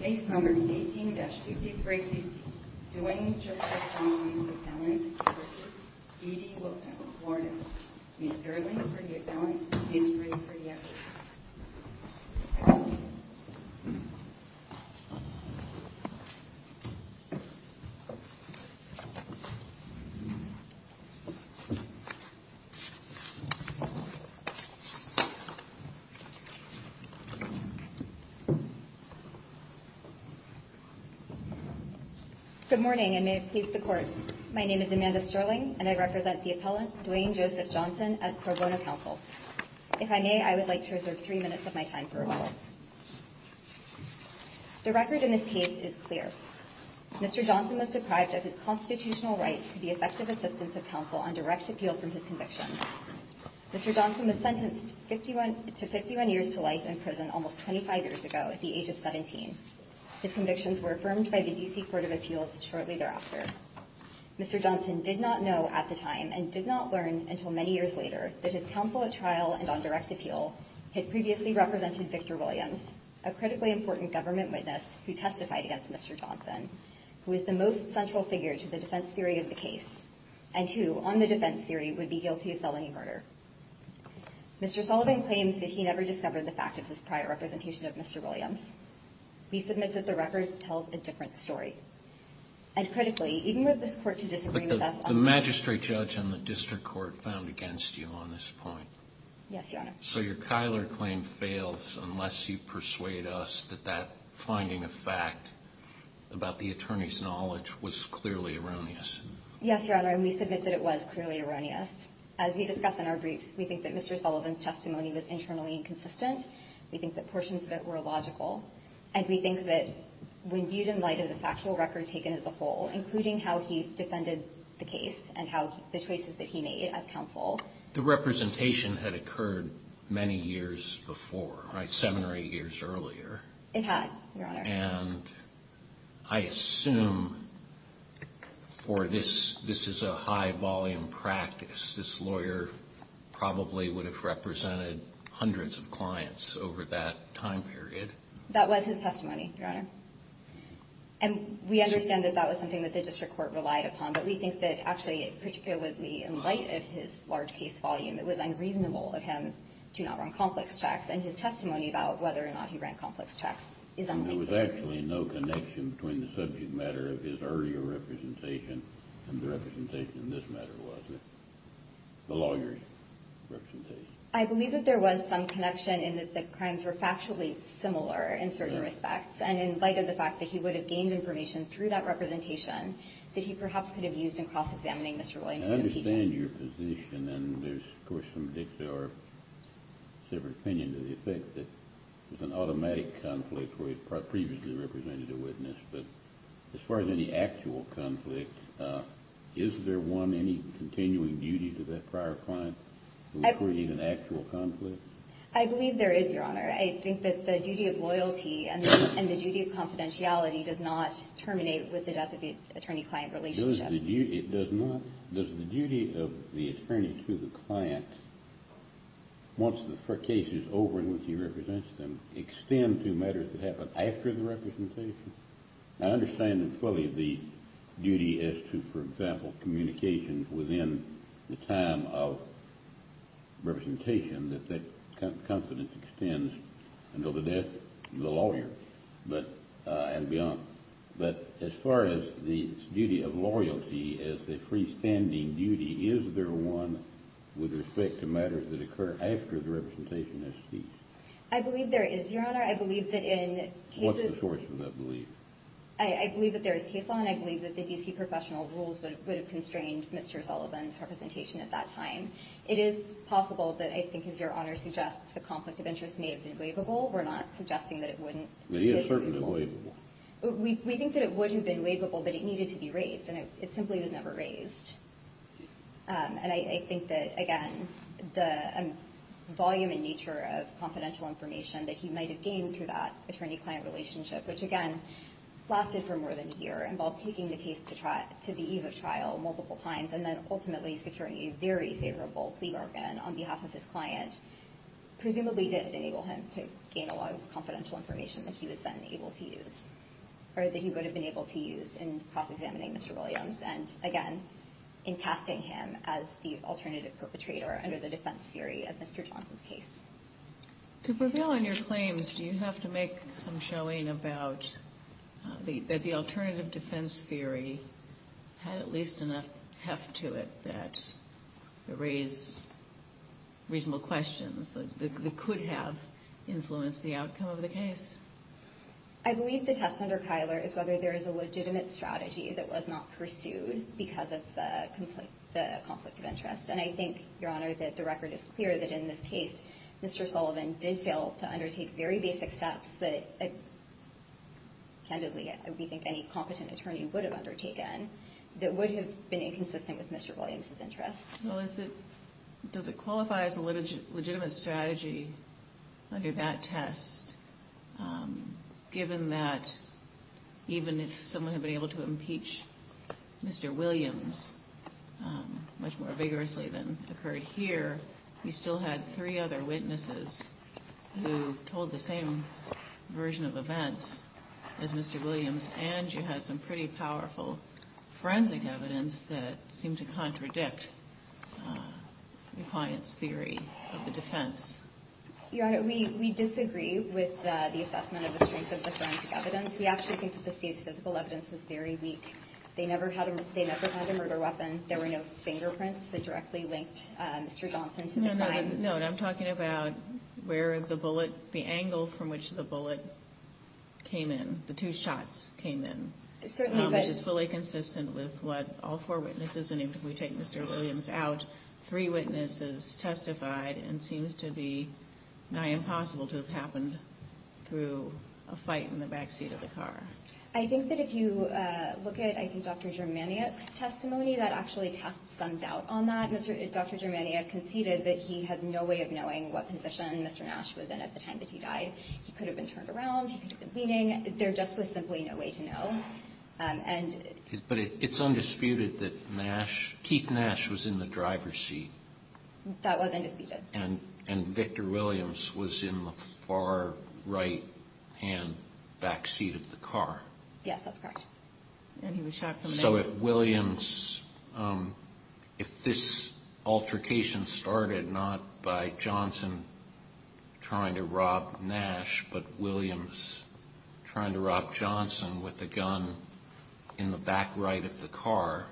Case No. 18-5350 Duane Johnson v. E. D. Wilson Miss Sterling for the affidavits, Miss Green for the evidence Good morning, and may it please the Court. My name is Amanda Sterling, and I represent the appellant, Duane Joseph Johnson, as pro bono counsel. If I may, I would like to reserve three minutes of my time for a moment. The record in this case is clear. Mr. Johnson was deprived of his constitutional right to the effective assistance of counsel on direct appeal from his convictions. Mr. Johnson was sentenced to 51 years to life in prison, almost 25 years ago at the age of 17. His convictions were affirmed by the D.C. Court of Appeals shortly thereafter. Mr. Johnson did not know at the time, and did not learn until many years later, that his counsel at trial and on direct appeal had previously represented Victor Williams, a critically important government witness who testified against Mr. Johnson, who is the most central figure to the defense theory of the case, and who, on the defense theory, would be guilty of felony murder. Mr. Sullivan claims that he never discovered the fact of his prior representation of Mr. Williams. We submit that the record tells a different story. And critically, even with this Court to disagree with us on the... But the magistrate judge and the district court found against you on this point. Yes, Your Honor. So your Kyler claim fails unless you persuade us that that finding of fact about the attorney's knowledge was clearly erroneous. Yes, Your Honor, and we submit that it was clearly erroneous. As we discuss in our briefs, we think that Mr. Sullivan's testimony was internally inconsistent. We think that portions of it were illogical. And we think that when viewed in light of the factual record taken as a whole, including how he defended the case and how the choices that he made as counsel... The representation had occurred many years before, right, seven or eight years earlier. It had, Your Honor. And I assume for this, this is a high-volume practice. This lawyer probably would have represented hundreds of clients over that time period. That was his testimony, Your Honor. And we understand that that was something that the district court relied upon, but we think that actually, particularly in light of his large case volume, it was unreasonable of him to not run complex checks. And his testimony about whether or not he ran complex checks is unthinkable. There was actually no connection between the subject matter of his earlier representation and the representation in this matter, was there? The lawyer's representation. I believe that there was some connection in that the crimes were factually similar in certain respects. And in light of the fact that he would have gained information through that representation, that he perhaps could have used in cross-examining Mr. Williamson and P.J. I understand your position, and there's, of course, some dicks that are of a different opinion to the effect that it's an automatic conflict where he's previously represented a witness. But as far as any actual conflict, is there one, any continuing duty to that prior client that would create an actual conflict? I believe there is, Your Honor. I think that the duty of loyalty and the duty of confidentiality does not terminate with the death of the attorney-client relationship. It does not? Does the duty of the attorney to the client, once the case is over and he represents them, extend to matters that happen after the representation? I understand fully the duty as to, for example, communication within the time of representation, that that confidence extends until the death of the lawyer and beyond. But as far as the duty of loyalty as the freestanding duty, is there one with respect to matters that occur after the representation has ceased? I believe there is, Your Honor. I believe that in cases What's the source of that belief? I believe that there is case law, and I believe that the D.C. professional rules would have constrained Mr. Sullivan's representation at that time. It is possible that I think, as Your Honor suggests, the conflict of interest may have been waivable. We're not suggesting that it wouldn't be waivable. It is certainly waivable. We think that it would have been waivable, but it needed to be raised, and it simply was never raised. And I think that, again, the volume and nature of confidential information that he might have gained through that attorney-client relationship, which, again, lasted for more than a year, involved taking the case to the eve of trial multiple times, and then ultimately securing a very favorable plea bargain on behalf of his client, presumably did enable him to gain a lot of confidential information that he was then able to use, or that he would have been able to use in cross-examining Mr. Williams and, again, in casting him as the alternative perpetrator under the defense theory of Mr. Johnson's case. To prevail on your claims, do you have to make some showing about that the alternative defense theory had at least enough heft to it that it raised reasonable questions that could have influenced the outcome of the case? I believe the test under Kyler is whether there is a legitimate strategy that was not pursued because of the conflict of interest. And I think, Your Honor, that the record is clear that in this case, Mr. Sullivan did fail to undertake very basic steps that, candidly, we think any competent attorney would have undertaken, that would have been inconsistent with Mr. Williams's interests. Well, does it qualify as a legitimate strategy under that test, given that even if someone had been able to impeach Mr. Williams much more vigorously than occurred here, you still had three other witnesses who told the same version of events as Mr. Williams, and you had some pretty powerful forensic evidence that seemed to contradict the client's theory of the defense. Your Honor, we disagree with the assessment of the strength of the forensic evidence. We actually think that the state's physical evidence was very weak. They never had a murder weapon. There were no fingerprints that directly linked Mr. Johnson to the crime. No, no, no. I'm talking about where the bullet, the angle from which the bullet came in, the two shots came in, which is fully consistent with what all four witnesses, and even if we take Mr. Williams out, three witnesses testified and it seems to be nigh impossible to have happened through a fight in the backseat of the car. I think that if you look at, I think, Dr. Germaniak's testimony, that actually casts some doubt on that. Dr. Germaniak conceded that he had no way of knowing what position Mr. Nash was in at the time that he died. He could have been turned around. He could have, there just was simply no way to know. But it's undisputed that Nash, Keith Nash, was in the driver's seat. That was undisputed. And Victor Williams was in the far right-hand backseat of the car. Yes, that's correct. So if Williams, if this altercation started not by Johnson trying to rob Nash, but Williams trying to rob Johnson with the gun in the back right of the car,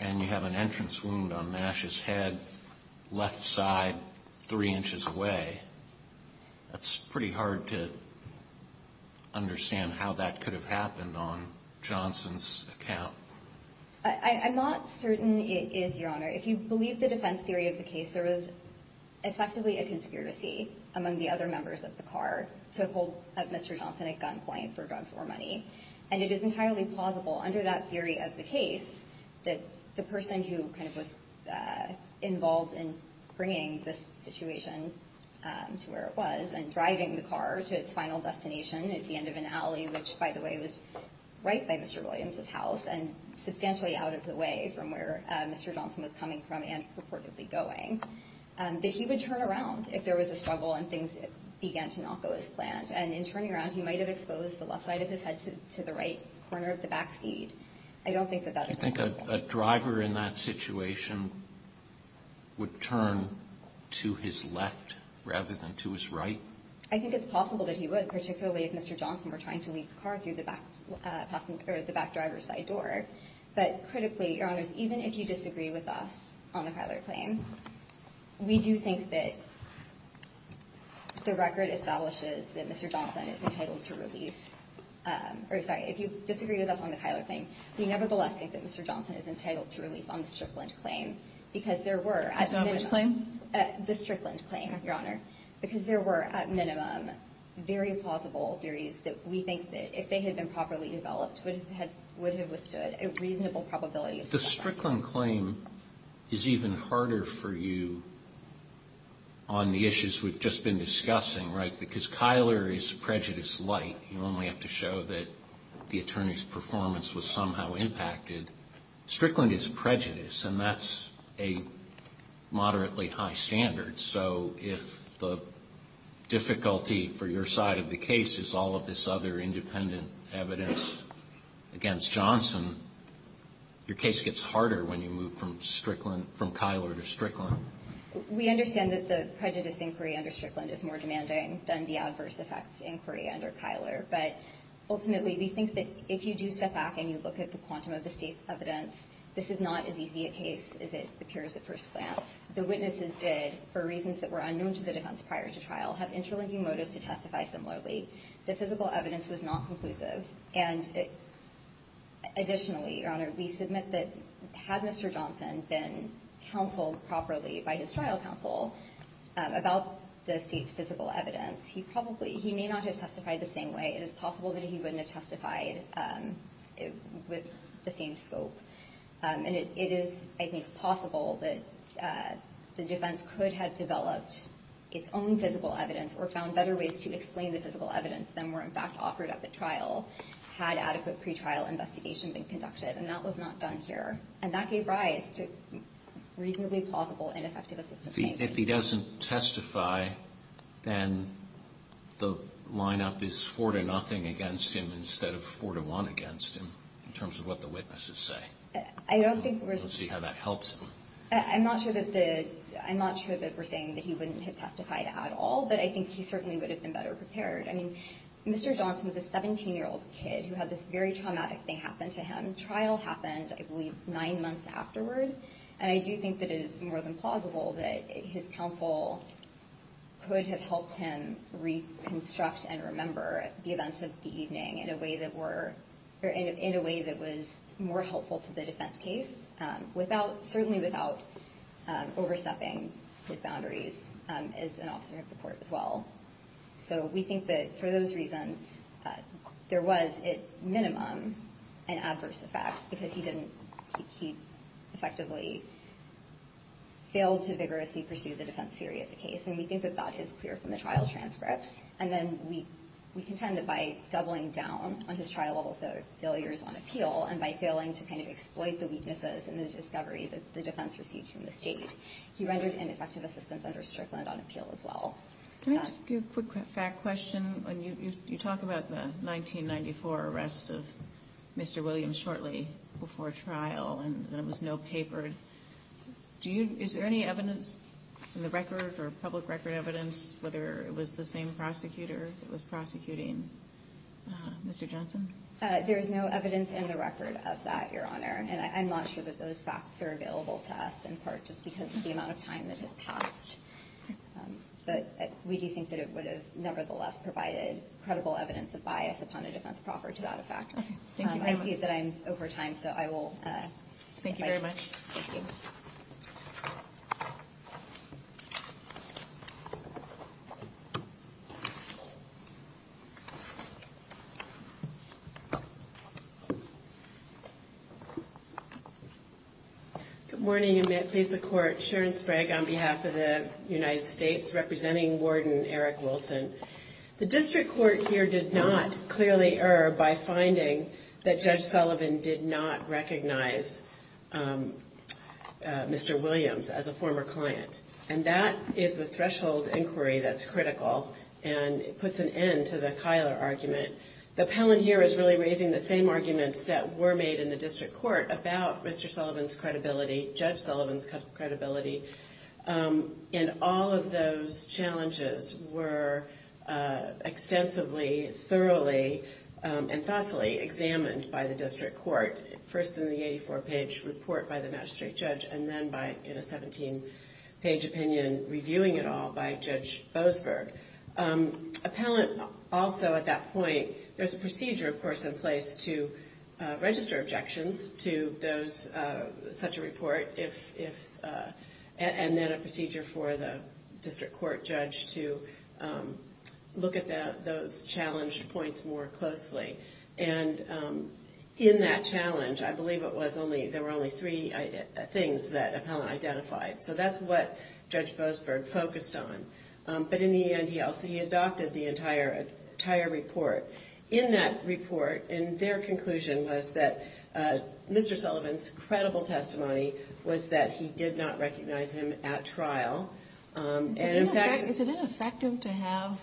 and you have an entrance wound on Nash's head, left side, three inches away, that's pretty hard to understand how that could have happened on Johnson's account. I'm not certain it is, Your Honor. If you believe the defense theory of the case, there was effectively a conspiracy among the other members of the car to hold up Mr. Johnson at gunpoint for drugs or money. And it is entirely plausible under that theory of the case that the person who kind of was involved in bringing this situation to where it was and driving the car to its final destination at the end of an alley, which, by the way, was right by Mr. Williams's house and substantially out of the way from where Mr. Johnson was coming from and purportedly going, that he would turn around if there was a struggle and things began to not go as planned. And in turning around, he might have exposed the left side of his head to the right corner of the backseat. I don't think that that is an altercation. Do you think a driver in that situation would turn to his left rather than to his right? I think it's possible that he would, particularly if Mr. Johnson were trying to lead the car through the back driver's side door. But critically, Your Honors, even if you disagree with us on the Kyler claim, we do think that the record establishes that Mr. Johnson is entitled to relief. Sorry, if you disagree with us on the Kyler claim, we nevertheless think that Mr. Johnson is entitled to relief on the Strickland claim because there were at minimum. Which claim? The Strickland claim, Your Honor, because there were, at minimum, very plausible theories that we think that if they had been properly developed, would have withstood a reasonable probability assessment. The Strickland claim is even harder for you on the issues we've just been discussing, right? Because Kyler is prejudice light. You only have to show that the attorney's performance was somehow impacted. Strickland is prejudice, and that's a moderately high standard. So if the difficulty for your side of the case is all of this other independent evidence against Johnson, your case gets harder when you move from Strickland, from Kyler to Strickland. We understand that the prejudice inquiry under Strickland is more demanding than the adverse effects inquiry under Kyler. But ultimately, we think that if you do step back and you look at the quantum of the state's evidence, this is not as easy a case as it appears at The witnesses did, for reasons that were unknown to the defense prior to trial, have interlinking motives to testify similarly. The physical evidence was not conclusive. And additionally, Your Honor, we submit that had Mr. Johnson been counseled properly by his trial counsel about the state's physical evidence, he may not have testified the same way. It is possible that he wouldn't have testified with the same scope. And it is, I think, possible that the defense could have developed its own physical evidence or found better ways to explain the physical evidence than were, in fact, offered at the trial had adequate pretrial investigation been conducted. And that was not done here. And that gave rise to reasonably plausible ineffective assistance. If he doesn't testify, then the lineup is 4-0 against him instead of 4-1 against him, in terms of what the witnesses say. Let's see how that helps him. I'm not sure that we're saying that he wouldn't have testified at all. But I think he certainly would have been better prepared. I mean, Mr. Johnson was a 17-year-old kid who had this very traumatic thing happen to him. Trial happened, I believe, nine months afterward. And I do think that it is more than plausible that his counsel could have helped him reconstruct and remember the events of the evening in a way that was more helpful to the defense case, certainly without overstepping his boundaries as an officer of the court as well. So we think that for those reasons, there was, at minimum, an adverse effect because he effectively failed to vigorously pursue the defense theory of the case. And we think that that is clear from the trial transcripts. And then we contend that by doubling down on his trial-level failures on appeal and by failing to kind of exploit the weaknesses in the discovery that the defense received from the state, he rendered ineffective assistance under Strickland on appeal as well. Can I ask you a quick fact question? You talk about the 1994 arrest of Mr. Williams shortly before trial, and there was no paper. Is there any evidence in the record or public record evidence, whether it was the same prosecutor that was prosecuting Mr. Johnson? There is no evidence in the record of that, Your Honor. And I'm not sure that those facts are available to us, in part just because of the amount of time that has passed. But we do think that it would have, nevertheless, provided credible evidence of bias upon a defense proffer to that effect. I see that I'm over time, so I will. Thank you very much. Good morning, and may it please the Court. Sharon Sprague on behalf of the United States, representing Warden Eric Wilson. The district court here did not clearly err by finding that Judge Sullivan did not recognize Mr. Williams as a former client. And that is the threshold inquiry that's critical, and it puts an end to the Kyler argument. The appellant here is really raising the same arguments that were made in the district court about Mr. Sullivan's credibility, Judge Sullivan's credibility. And all of those challenges were extensively, thoroughly, and thoughtfully examined by the district court, first in the 84-page report by the magistrate judge, and then in a 17-page opinion, reviewing it all by Judge Boasberg. Appellant also, at that point, there's a procedure, of course, in place to register objections to such a report, and then a procedure for the district court judge to look at those challenged points more closely. And in that challenge, I believe there were only three things that appellant identified. So that's what Judge Boasberg focused on. But in the end, he also adopted the entire report. In that report, and their conclusion was that Mr. Sullivan's credible testimony was that he did not recognize him at trial. And in fact... Is it ineffective to have...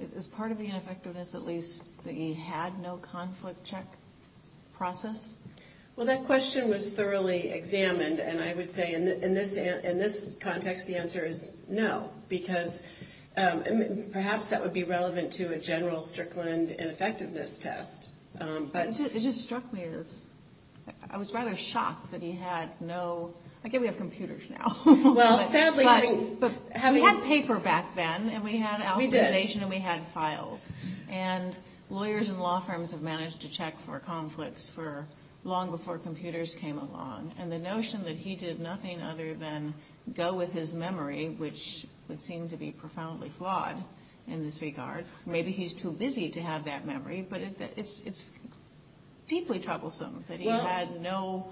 Is part of the ineffectiveness, at least, that he had no conflict check process? Well, that question was thoroughly examined, and I would say in this context, the answer is no. Because perhaps that would be relevant to a general Strickland ineffectiveness test. It just struck me as... I was rather shocked that he had no... I guess we have computers now. Well, sadly... We had paper back then, and we had... We did. And we had files. And lawyers and law firms have managed to check for conflicts for long before computers came along. And the notion that he did nothing other than go with his memory, which would seem to be profoundly flawed in this regard. Maybe he's too busy to have that memory. But it's deeply troublesome that he had no...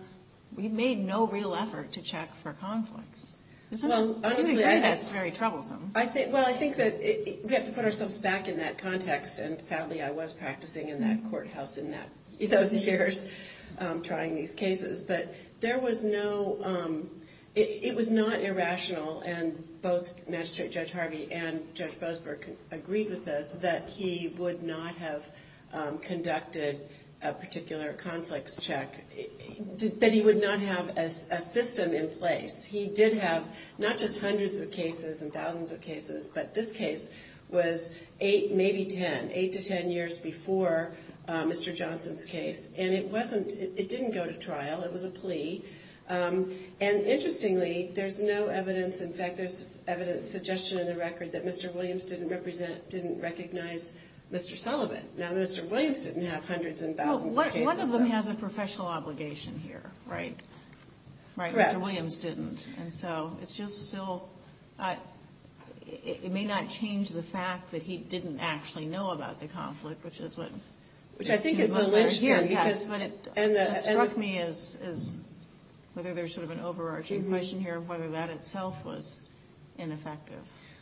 He made no real effort to check for conflicts. Isn't it? I think that's very troublesome. Well, I think that we have to put ourselves back in that context. And sadly, I was practicing in that courthouse in those years, trying these cases. But there was no... It was not irrational. And both Magistrate Judge Harvey and Judge Boasberg agreed with us that he would not have conducted a particular conflicts check. That he would not have a system in place. He did have not just hundreds of cases and thousands of cases, but this case was 8, maybe 10, 8 to 10 years before Mr. Johnson's case. And it wasn't... It didn't go to trial. It was a plea. And interestingly, there's no evidence... In fact, there's evidence, suggestion in the record, that Mr. Williams didn't recognize Mr. Sullivan. Now, Mr. Williams didn't have hundreds and thousands of cases. Well, one of them has a professional obligation here, right? Correct. Mr. Williams didn't. And so, it's just still... It may not change the fact that he didn't actually know about the conflict, which is what... Which I think is the lynching. Yes, but it struck me as whether there's sort of an overarching question here, whether that itself was ineffective.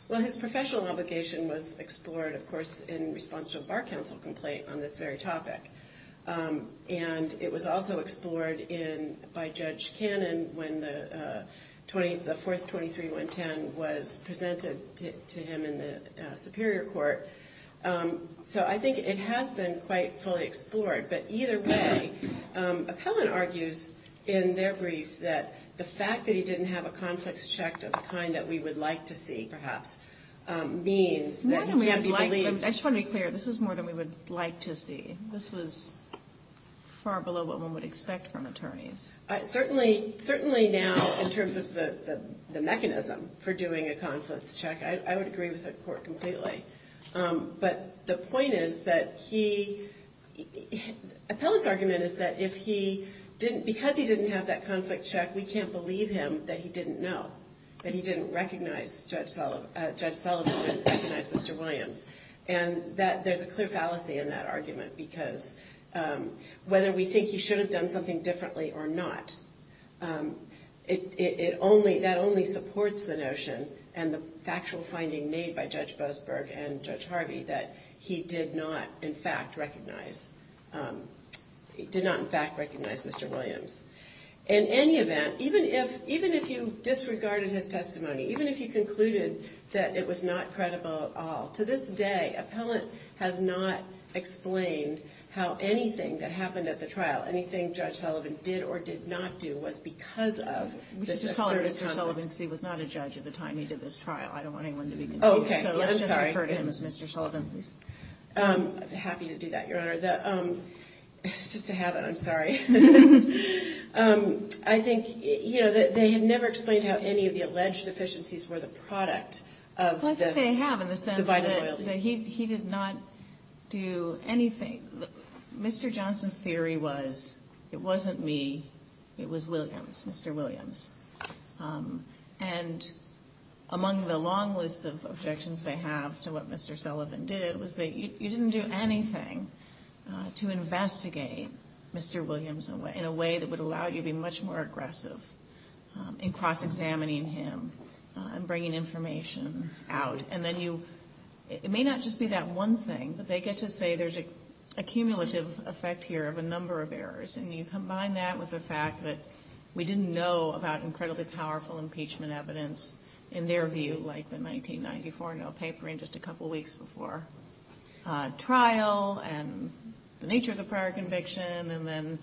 Well, his professional obligation was explored, of course, in response to a Bar Council complaint on this very topic. And it was also explored by Judge Cannon when the fourth 23-110 was presented to him in the Superior Court. So, I think it has been quite fully explored. But either way, Appellant argues in their brief that the fact that he didn't have a conflict checked of the kind that we would like to see, perhaps, means that he can be believed... More than we would like... I just want to be clear. This is more than we would like to see. This was far below what one would expect from attorneys. Certainly, now, in terms of the mechanism for doing a conflict check, I would agree with the Court completely. But the point is that he... Appellant's argument is that if he didn't... Because he didn't have that conflict check, we can't believe him that he didn't know, that he didn't recognize Judge Sullivan and recognize Mr. Williams. And there's a clear fallacy in that argument. Because whether we think he should have done something differently or not, that only supports the notion and the factual finding made by Judge Boasberg and Judge Harvey that he did not, in fact, recognize Mr. Williams. In any event, even if you disregarded his testimony, even if you concluded that it was not credible at all, to this day, Appellant has not explained how anything that happened at the trial, anything Judge Sullivan did or did not do, was because of... Let's just call him Mr. Sullivan because he was not a judge at the time he did this trial. I don't want anyone to be confused. Oh, okay. I'm sorry. So let's just refer to him as Mr. Sullivan, please. I'm happy to do that, Your Honor. It's just a habit. I'm sorry. I think, you know, they had never explained how any of the alleged deficiencies were the product of this divided loyalties. Well, I think they have in the sense that he did not do anything. Mr. Johnson's theory was, it wasn't me, it was Williams, Mr. Williams. And among the long list of objections they have to what Mr. Sullivan did was that you didn't do anything to investigate Mr. Williams in a way that would allow you to be much more aggressive in cross-examining him and bringing information out. And then you... It may not just be that one thing, but they get to say there's a cumulative effect here of a number of errors. And you combine that with the fact that we didn't know about incredibly powerful impeachment evidence in their view, like the 1994 no paper and just a couple weeks before trial and the nature of the prior conviction. And then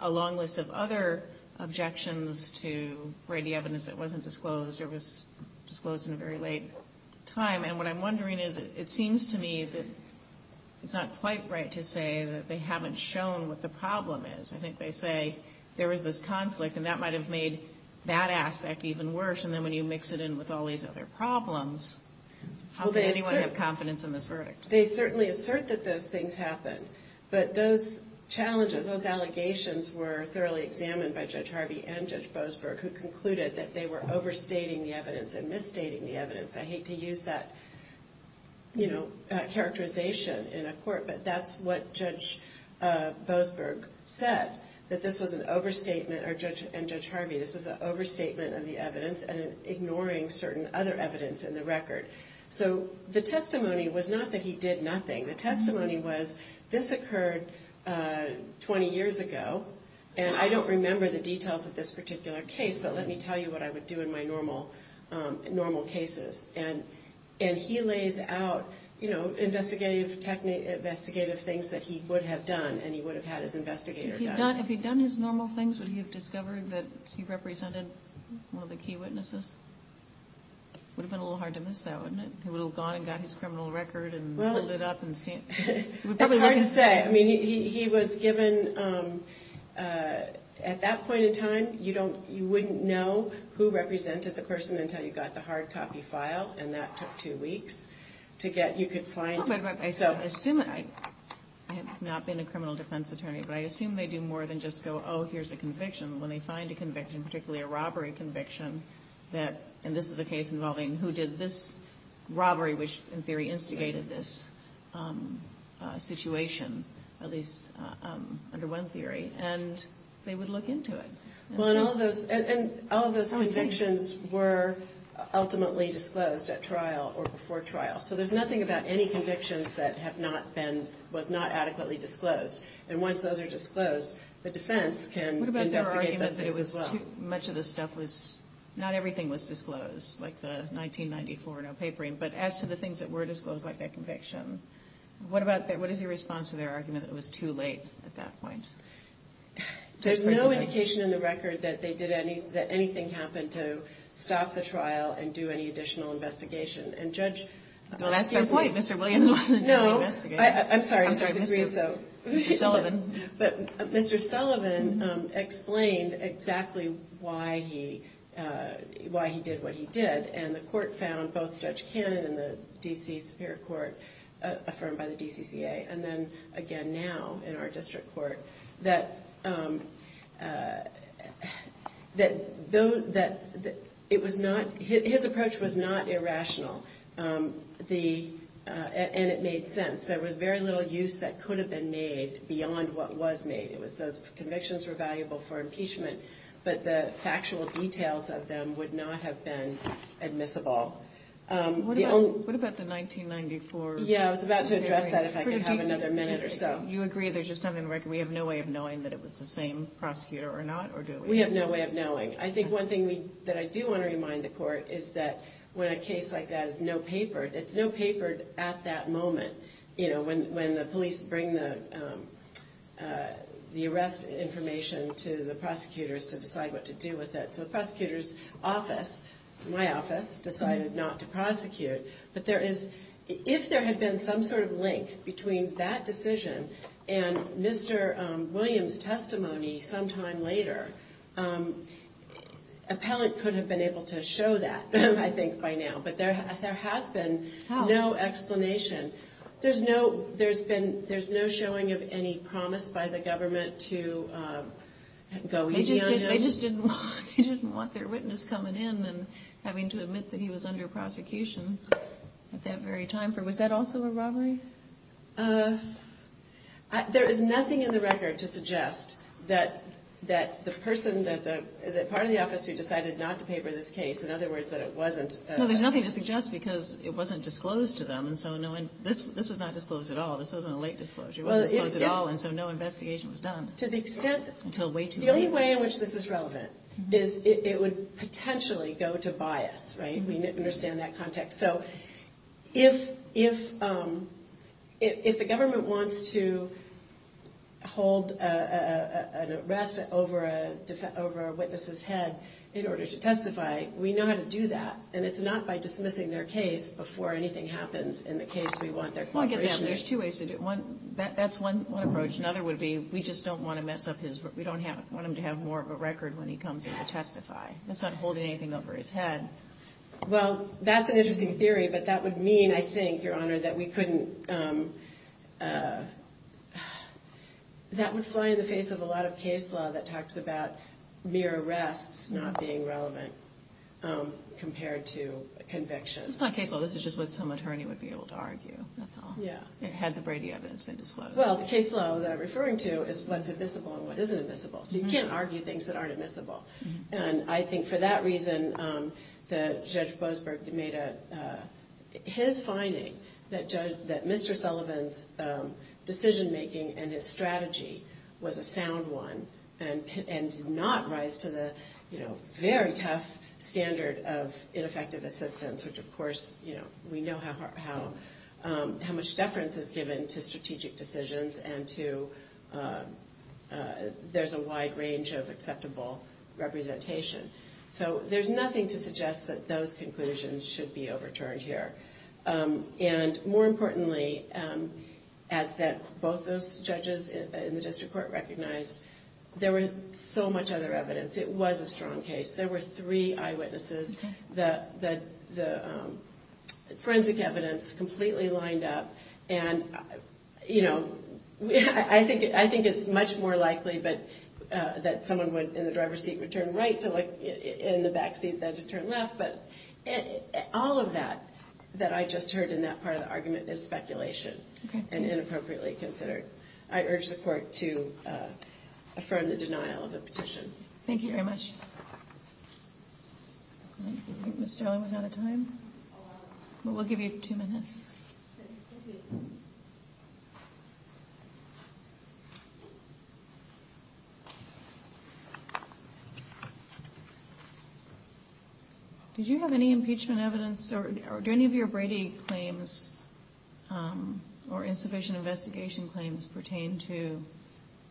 a long list of other objections to Brady evidence that wasn't disclosed or was disclosed in a very late time. And what I'm wondering is, it seems to me that it's not quite right to say that they haven't shown what the problem is. I think they say there was this conflict and that might have made that aspect even worse. And then when you mix it in with all these other problems, how can anyone have confidence in this verdict? They certainly assert that those things happened. But those challenges, those allegations were thoroughly examined by Judge Harvey and Judge Boasberg, who concluded that they were overstating the evidence and misstating the evidence. I hate to use that characterization in a court, but that's what Judge Boasberg said, that this was an overstatement. And Judge Harvey, this was an overstatement of the evidence and ignoring certain other evidence in the record. So the testimony was not that he did nothing. The testimony was, this occurred 20 years ago, and I don't remember the details of this particular case, but let me tell you what I would do in my normal cases. And he lays out, you know, investigative things that he would have done and he would have had his investigator done. If he'd done his normal things, would he have discovered that he represented one of the key witnesses? It would have been a little hard to miss that, wouldn't it? He would have gone and got his criminal record and pulled it up and seen it. It's hard to say. I mean, he was given, at that point in time, you wouldn't know who represented the person until you got the hard copy file, and that took two weeks to get, you could find. I have not been a criminal defense attorney, but I assume they do more than just go, oh, here's a conviction. When they find a conviction, particularly a robbery conviction, that, and this is a case involving who did this robbery, which in theory instigated this situation, at least under one theory, and they would look into it. Well, and all of those convictions were ultimately disclosed at trial or before trial. So there's nothing about any convictions that have not been, was not adequately disclosed. And once those are disclosed, the defense can investigate those things as well. What about their argument that it was too, much of the stuff was, not everything was disclosed, like the 1994 no papering, but as to the things that were disclosed, like that conviction, what is your response to their argument that it was too late at that point? There's no indication in the record that they did any, that anything happened to stop the trial and do any additional investigation. And Judge, excuse me. Well, that's my point. Mr. Williams wasn't doing the investigation. No. Mr. Sullivan. But Mr. Sullivan explained exactly why he, why he did what he did. And the court found, both Judge Cannon and the D.C. Superior Court affirmed by the DCCA, and then again now in our district court, that, that it was not, his approach was not irrational. The, and it made sense. There was very little use that could have been made beyond what was made. It was those convictions were valuable for impeachment, but the factual details of them would not have been admissible. What about the 1994? Yeah, I was about to address that if I could have another minute or so. You agree there's just nothing in the record. We have no way of knowing that it was the same prosecutor or not, or do we? We have no way of knowing. I think one thing that I do want to remind the court is that when a case like that is no paper, it's no paper at that moment, you know, when, when the police bring the, the arrest information to the prosecutors to decide what to do with it. So the prosecutor's office, my office, decided not to prosecute. But there is, if there had been some sort of link between that decision and Mr. Williams' testimony sometime later, appellant could have been able to show that, I think, by now. But there, there has been no explanation. There's no, there's been, there's no showing of any promise by the government to go easy on him. They just didn't want, they didn't want their witness coming in and having to admit that he was under prosecution at that very time. Was that also a robbery? There is nothing in the record to suggest that, that the person that the, that part of the office who decided not to paper this case, in other words, that it wasn't. No, there's nothing to suggest because it wasn't disclosed to them. And so no one, this, this was not disclosed at all. This wasn't a late disclosure, wasn't disclosed at all. And so no investigation was done. To the extent. Until way too late. The only way in which this is relevant is it would potentially go to bias, right? We understand that context. So if, if, if the government wants to hold an arrest over a, over a witness's head in order to testify, we know how to do that. And it's not by dismissing their case before anything happens in the case we want their cooperation. Well, again, there's two ways to do it. One, that's one approach. Another would be, we just don't want to mess up his, we don't have, want him to have more of a record when he comes in to testify. That's not holding anything over his head. Well, that's an interesting theory, but that would mean, I think, Your Honor, that we couldn't, that would fly in the face of a lot of case law that talks about mere arrests not being relevant compared to convictions. It's not case law. This is just what some attorney would be able to argue. That's all. Yeah. Had the Brady evidence been disclosed. Well, the case law that I'm referring to is what's admissible and what isn't admissible. So you can't argue things that aren't admissible. And I think for that reason that Judge Boasberg made a, his finding that Judge, that Mr. Sullivan's decision making and his strategy was a sound one. And did not rise to the, you know, very tough standard of ineffective assistance, which of course, you know, we know how much deference is given to strategic decisions and to, there's a wide range of acceptable representation. So there's nothing to suggest that those conclusions should be overturned here. And more importantly, as both those judges in the district court recognized, there were so much other evidence. It was a strong case. There were three eyewitnesses. The forensic evidence completely lined up. And, you know, I think, I think it's much more likely, but that someone would, in the driver's seat, would turn right to look in the backseat than to turn left. But all of that, that I just heard in that part of the argument is speculation and inappropriately considered. I urge the court to affirm the denial of the petition. Thank you very much. I think Ms. Sterling was out of time. We'll give you two minutes. Thank you. Did you have any impeachment evidence or do any of your Brady claims or insufficient investigation claims pertain to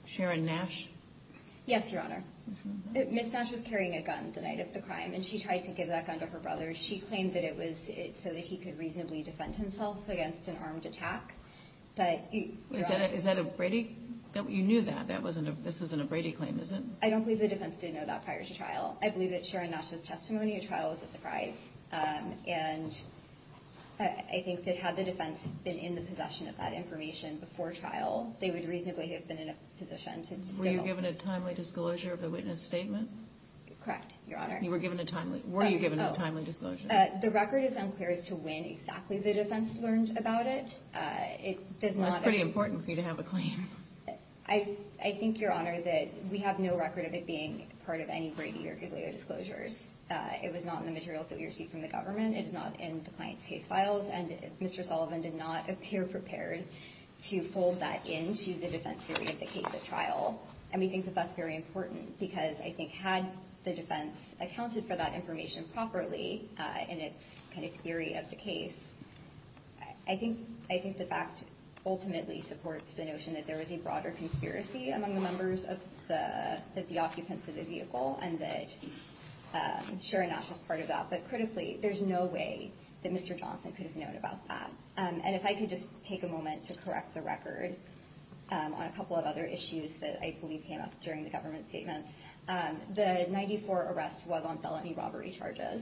Sharon Nash? Yes, Your Honor. Ms. Nash was carrying a gun the night of the crime, and she tried to give that gun to her brother. She claimed that it was so that he could reasonably defend himself against an armed attack. Is that a Brady? You knew that. This isn't a Brady claim, is it? I don't believe the defense did know that prior to trial. I believe that Sharon Nash's testimony at trial was a surprise. And I think that had the defense been in the possession of that information before trial, they would reasonably have been in a position to deal with it. Were you given a timely disclosure of the witness statement? Correct, Your Honor. Were you given a timely disclosure? The record is unclear as to when exactly the defense learned about it. It's pretty important for you to have a claim. I think, Your Honor, that we have no record of it being part of any Brady or Giglio disclosures. It was not in the materials that we received from the government. It is not in the client's case files. And Mr. Sullivan did not appear prepared to fold that into the defense theory of the case at trial. And we think that that's very important because I think had the defense accounted for that information properly in its kind of theory of the case, I think the fact ultimately supports the notion that there was a broader conspiracy among the members of the occupants of the vehicle. And that Sharon Nash was part of that. But critically, there's no way that Mr. Johnson could have known about that. And if I could just take a moment to correct the record on a couple of other issues that I believe came up during the government statements. The 94 arrest was on felony robbery charges.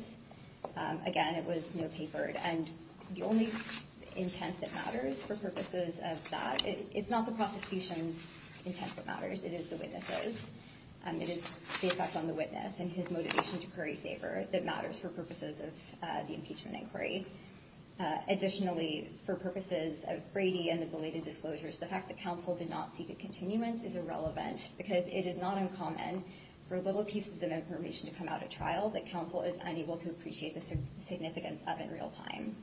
Again, it was no paper. And the only intent that matters for purposes of that, it's not the prosecution's intent that matters. It is the witness's. It is the effect on the witness and his motivation to curry favor that matters for purposes of the impeachment inquiry. Additionally, for purposes of Brady and the belated disclosures, the fact that counsel did not seek a continuance is irrelevant because it is not uncommon for little pieces of information to come out of trial. That counsel is unable to appreciate the significance of in real time.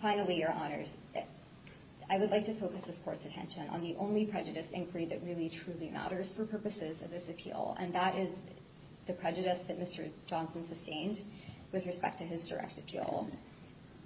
Finally, your honors, I would like to focus this court's attention on the only prejudice inquiry that really truly matters for purposes of this appeal. And that is the prejudice that Mr. Johnson sustained with respect to his direct appeal.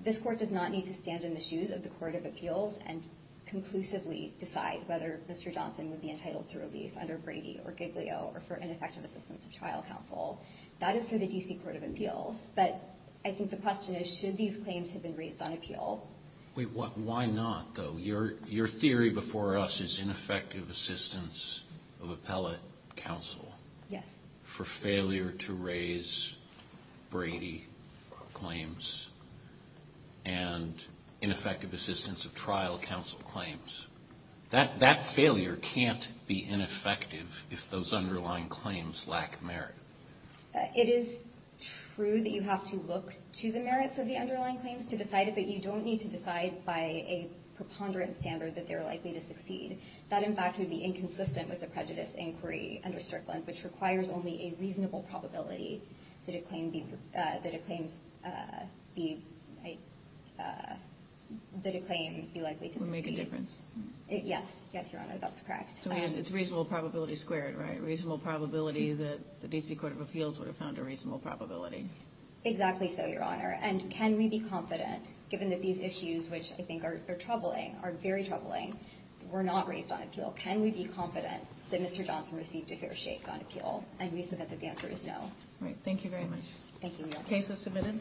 This court does not need to stand in the shoes of the Court of Appeals and conclusively decide whether Mr. Johnson would be entitled to relief under Brady or Giglio or for ineffective assistance of trial counsel. That is for the D.C. Court of Appeals. But I think the question is, should these claims have been raised on appeal? Why not, though? Your theory before us is ineffective assistance of appellate counsel. Yes. For failure to raise Brady claims and ineffective assistance of trial counsel claims. That failure can't be ineffective if those underlying claims lack merit. It is true that you have to look to the merits of the underlying claims to decide it, but you don't need to decide by a preponderant standard that they're likely to succeed. That, in fact, would be inconsistent with the prejudice inquiry under Strickland, which requires only a reasonable probability that a claim be likely to succeed. Would make a difference. Yes. Yes, your honors, that's correct. It's reasonable probability squared, right? Reasonable probability that the D.C. Court of Appeals would have found a reasonable probability. Exactly so, your honor. And can we be confident, given that these issues, which I think are troubling, are very troubling, were not raised on appeal. Can we be confident that Mr. Johnson received a fair shake on appeal? And we submit that the answer is no. All right. Thank you very much. Thank you. Case is submitted.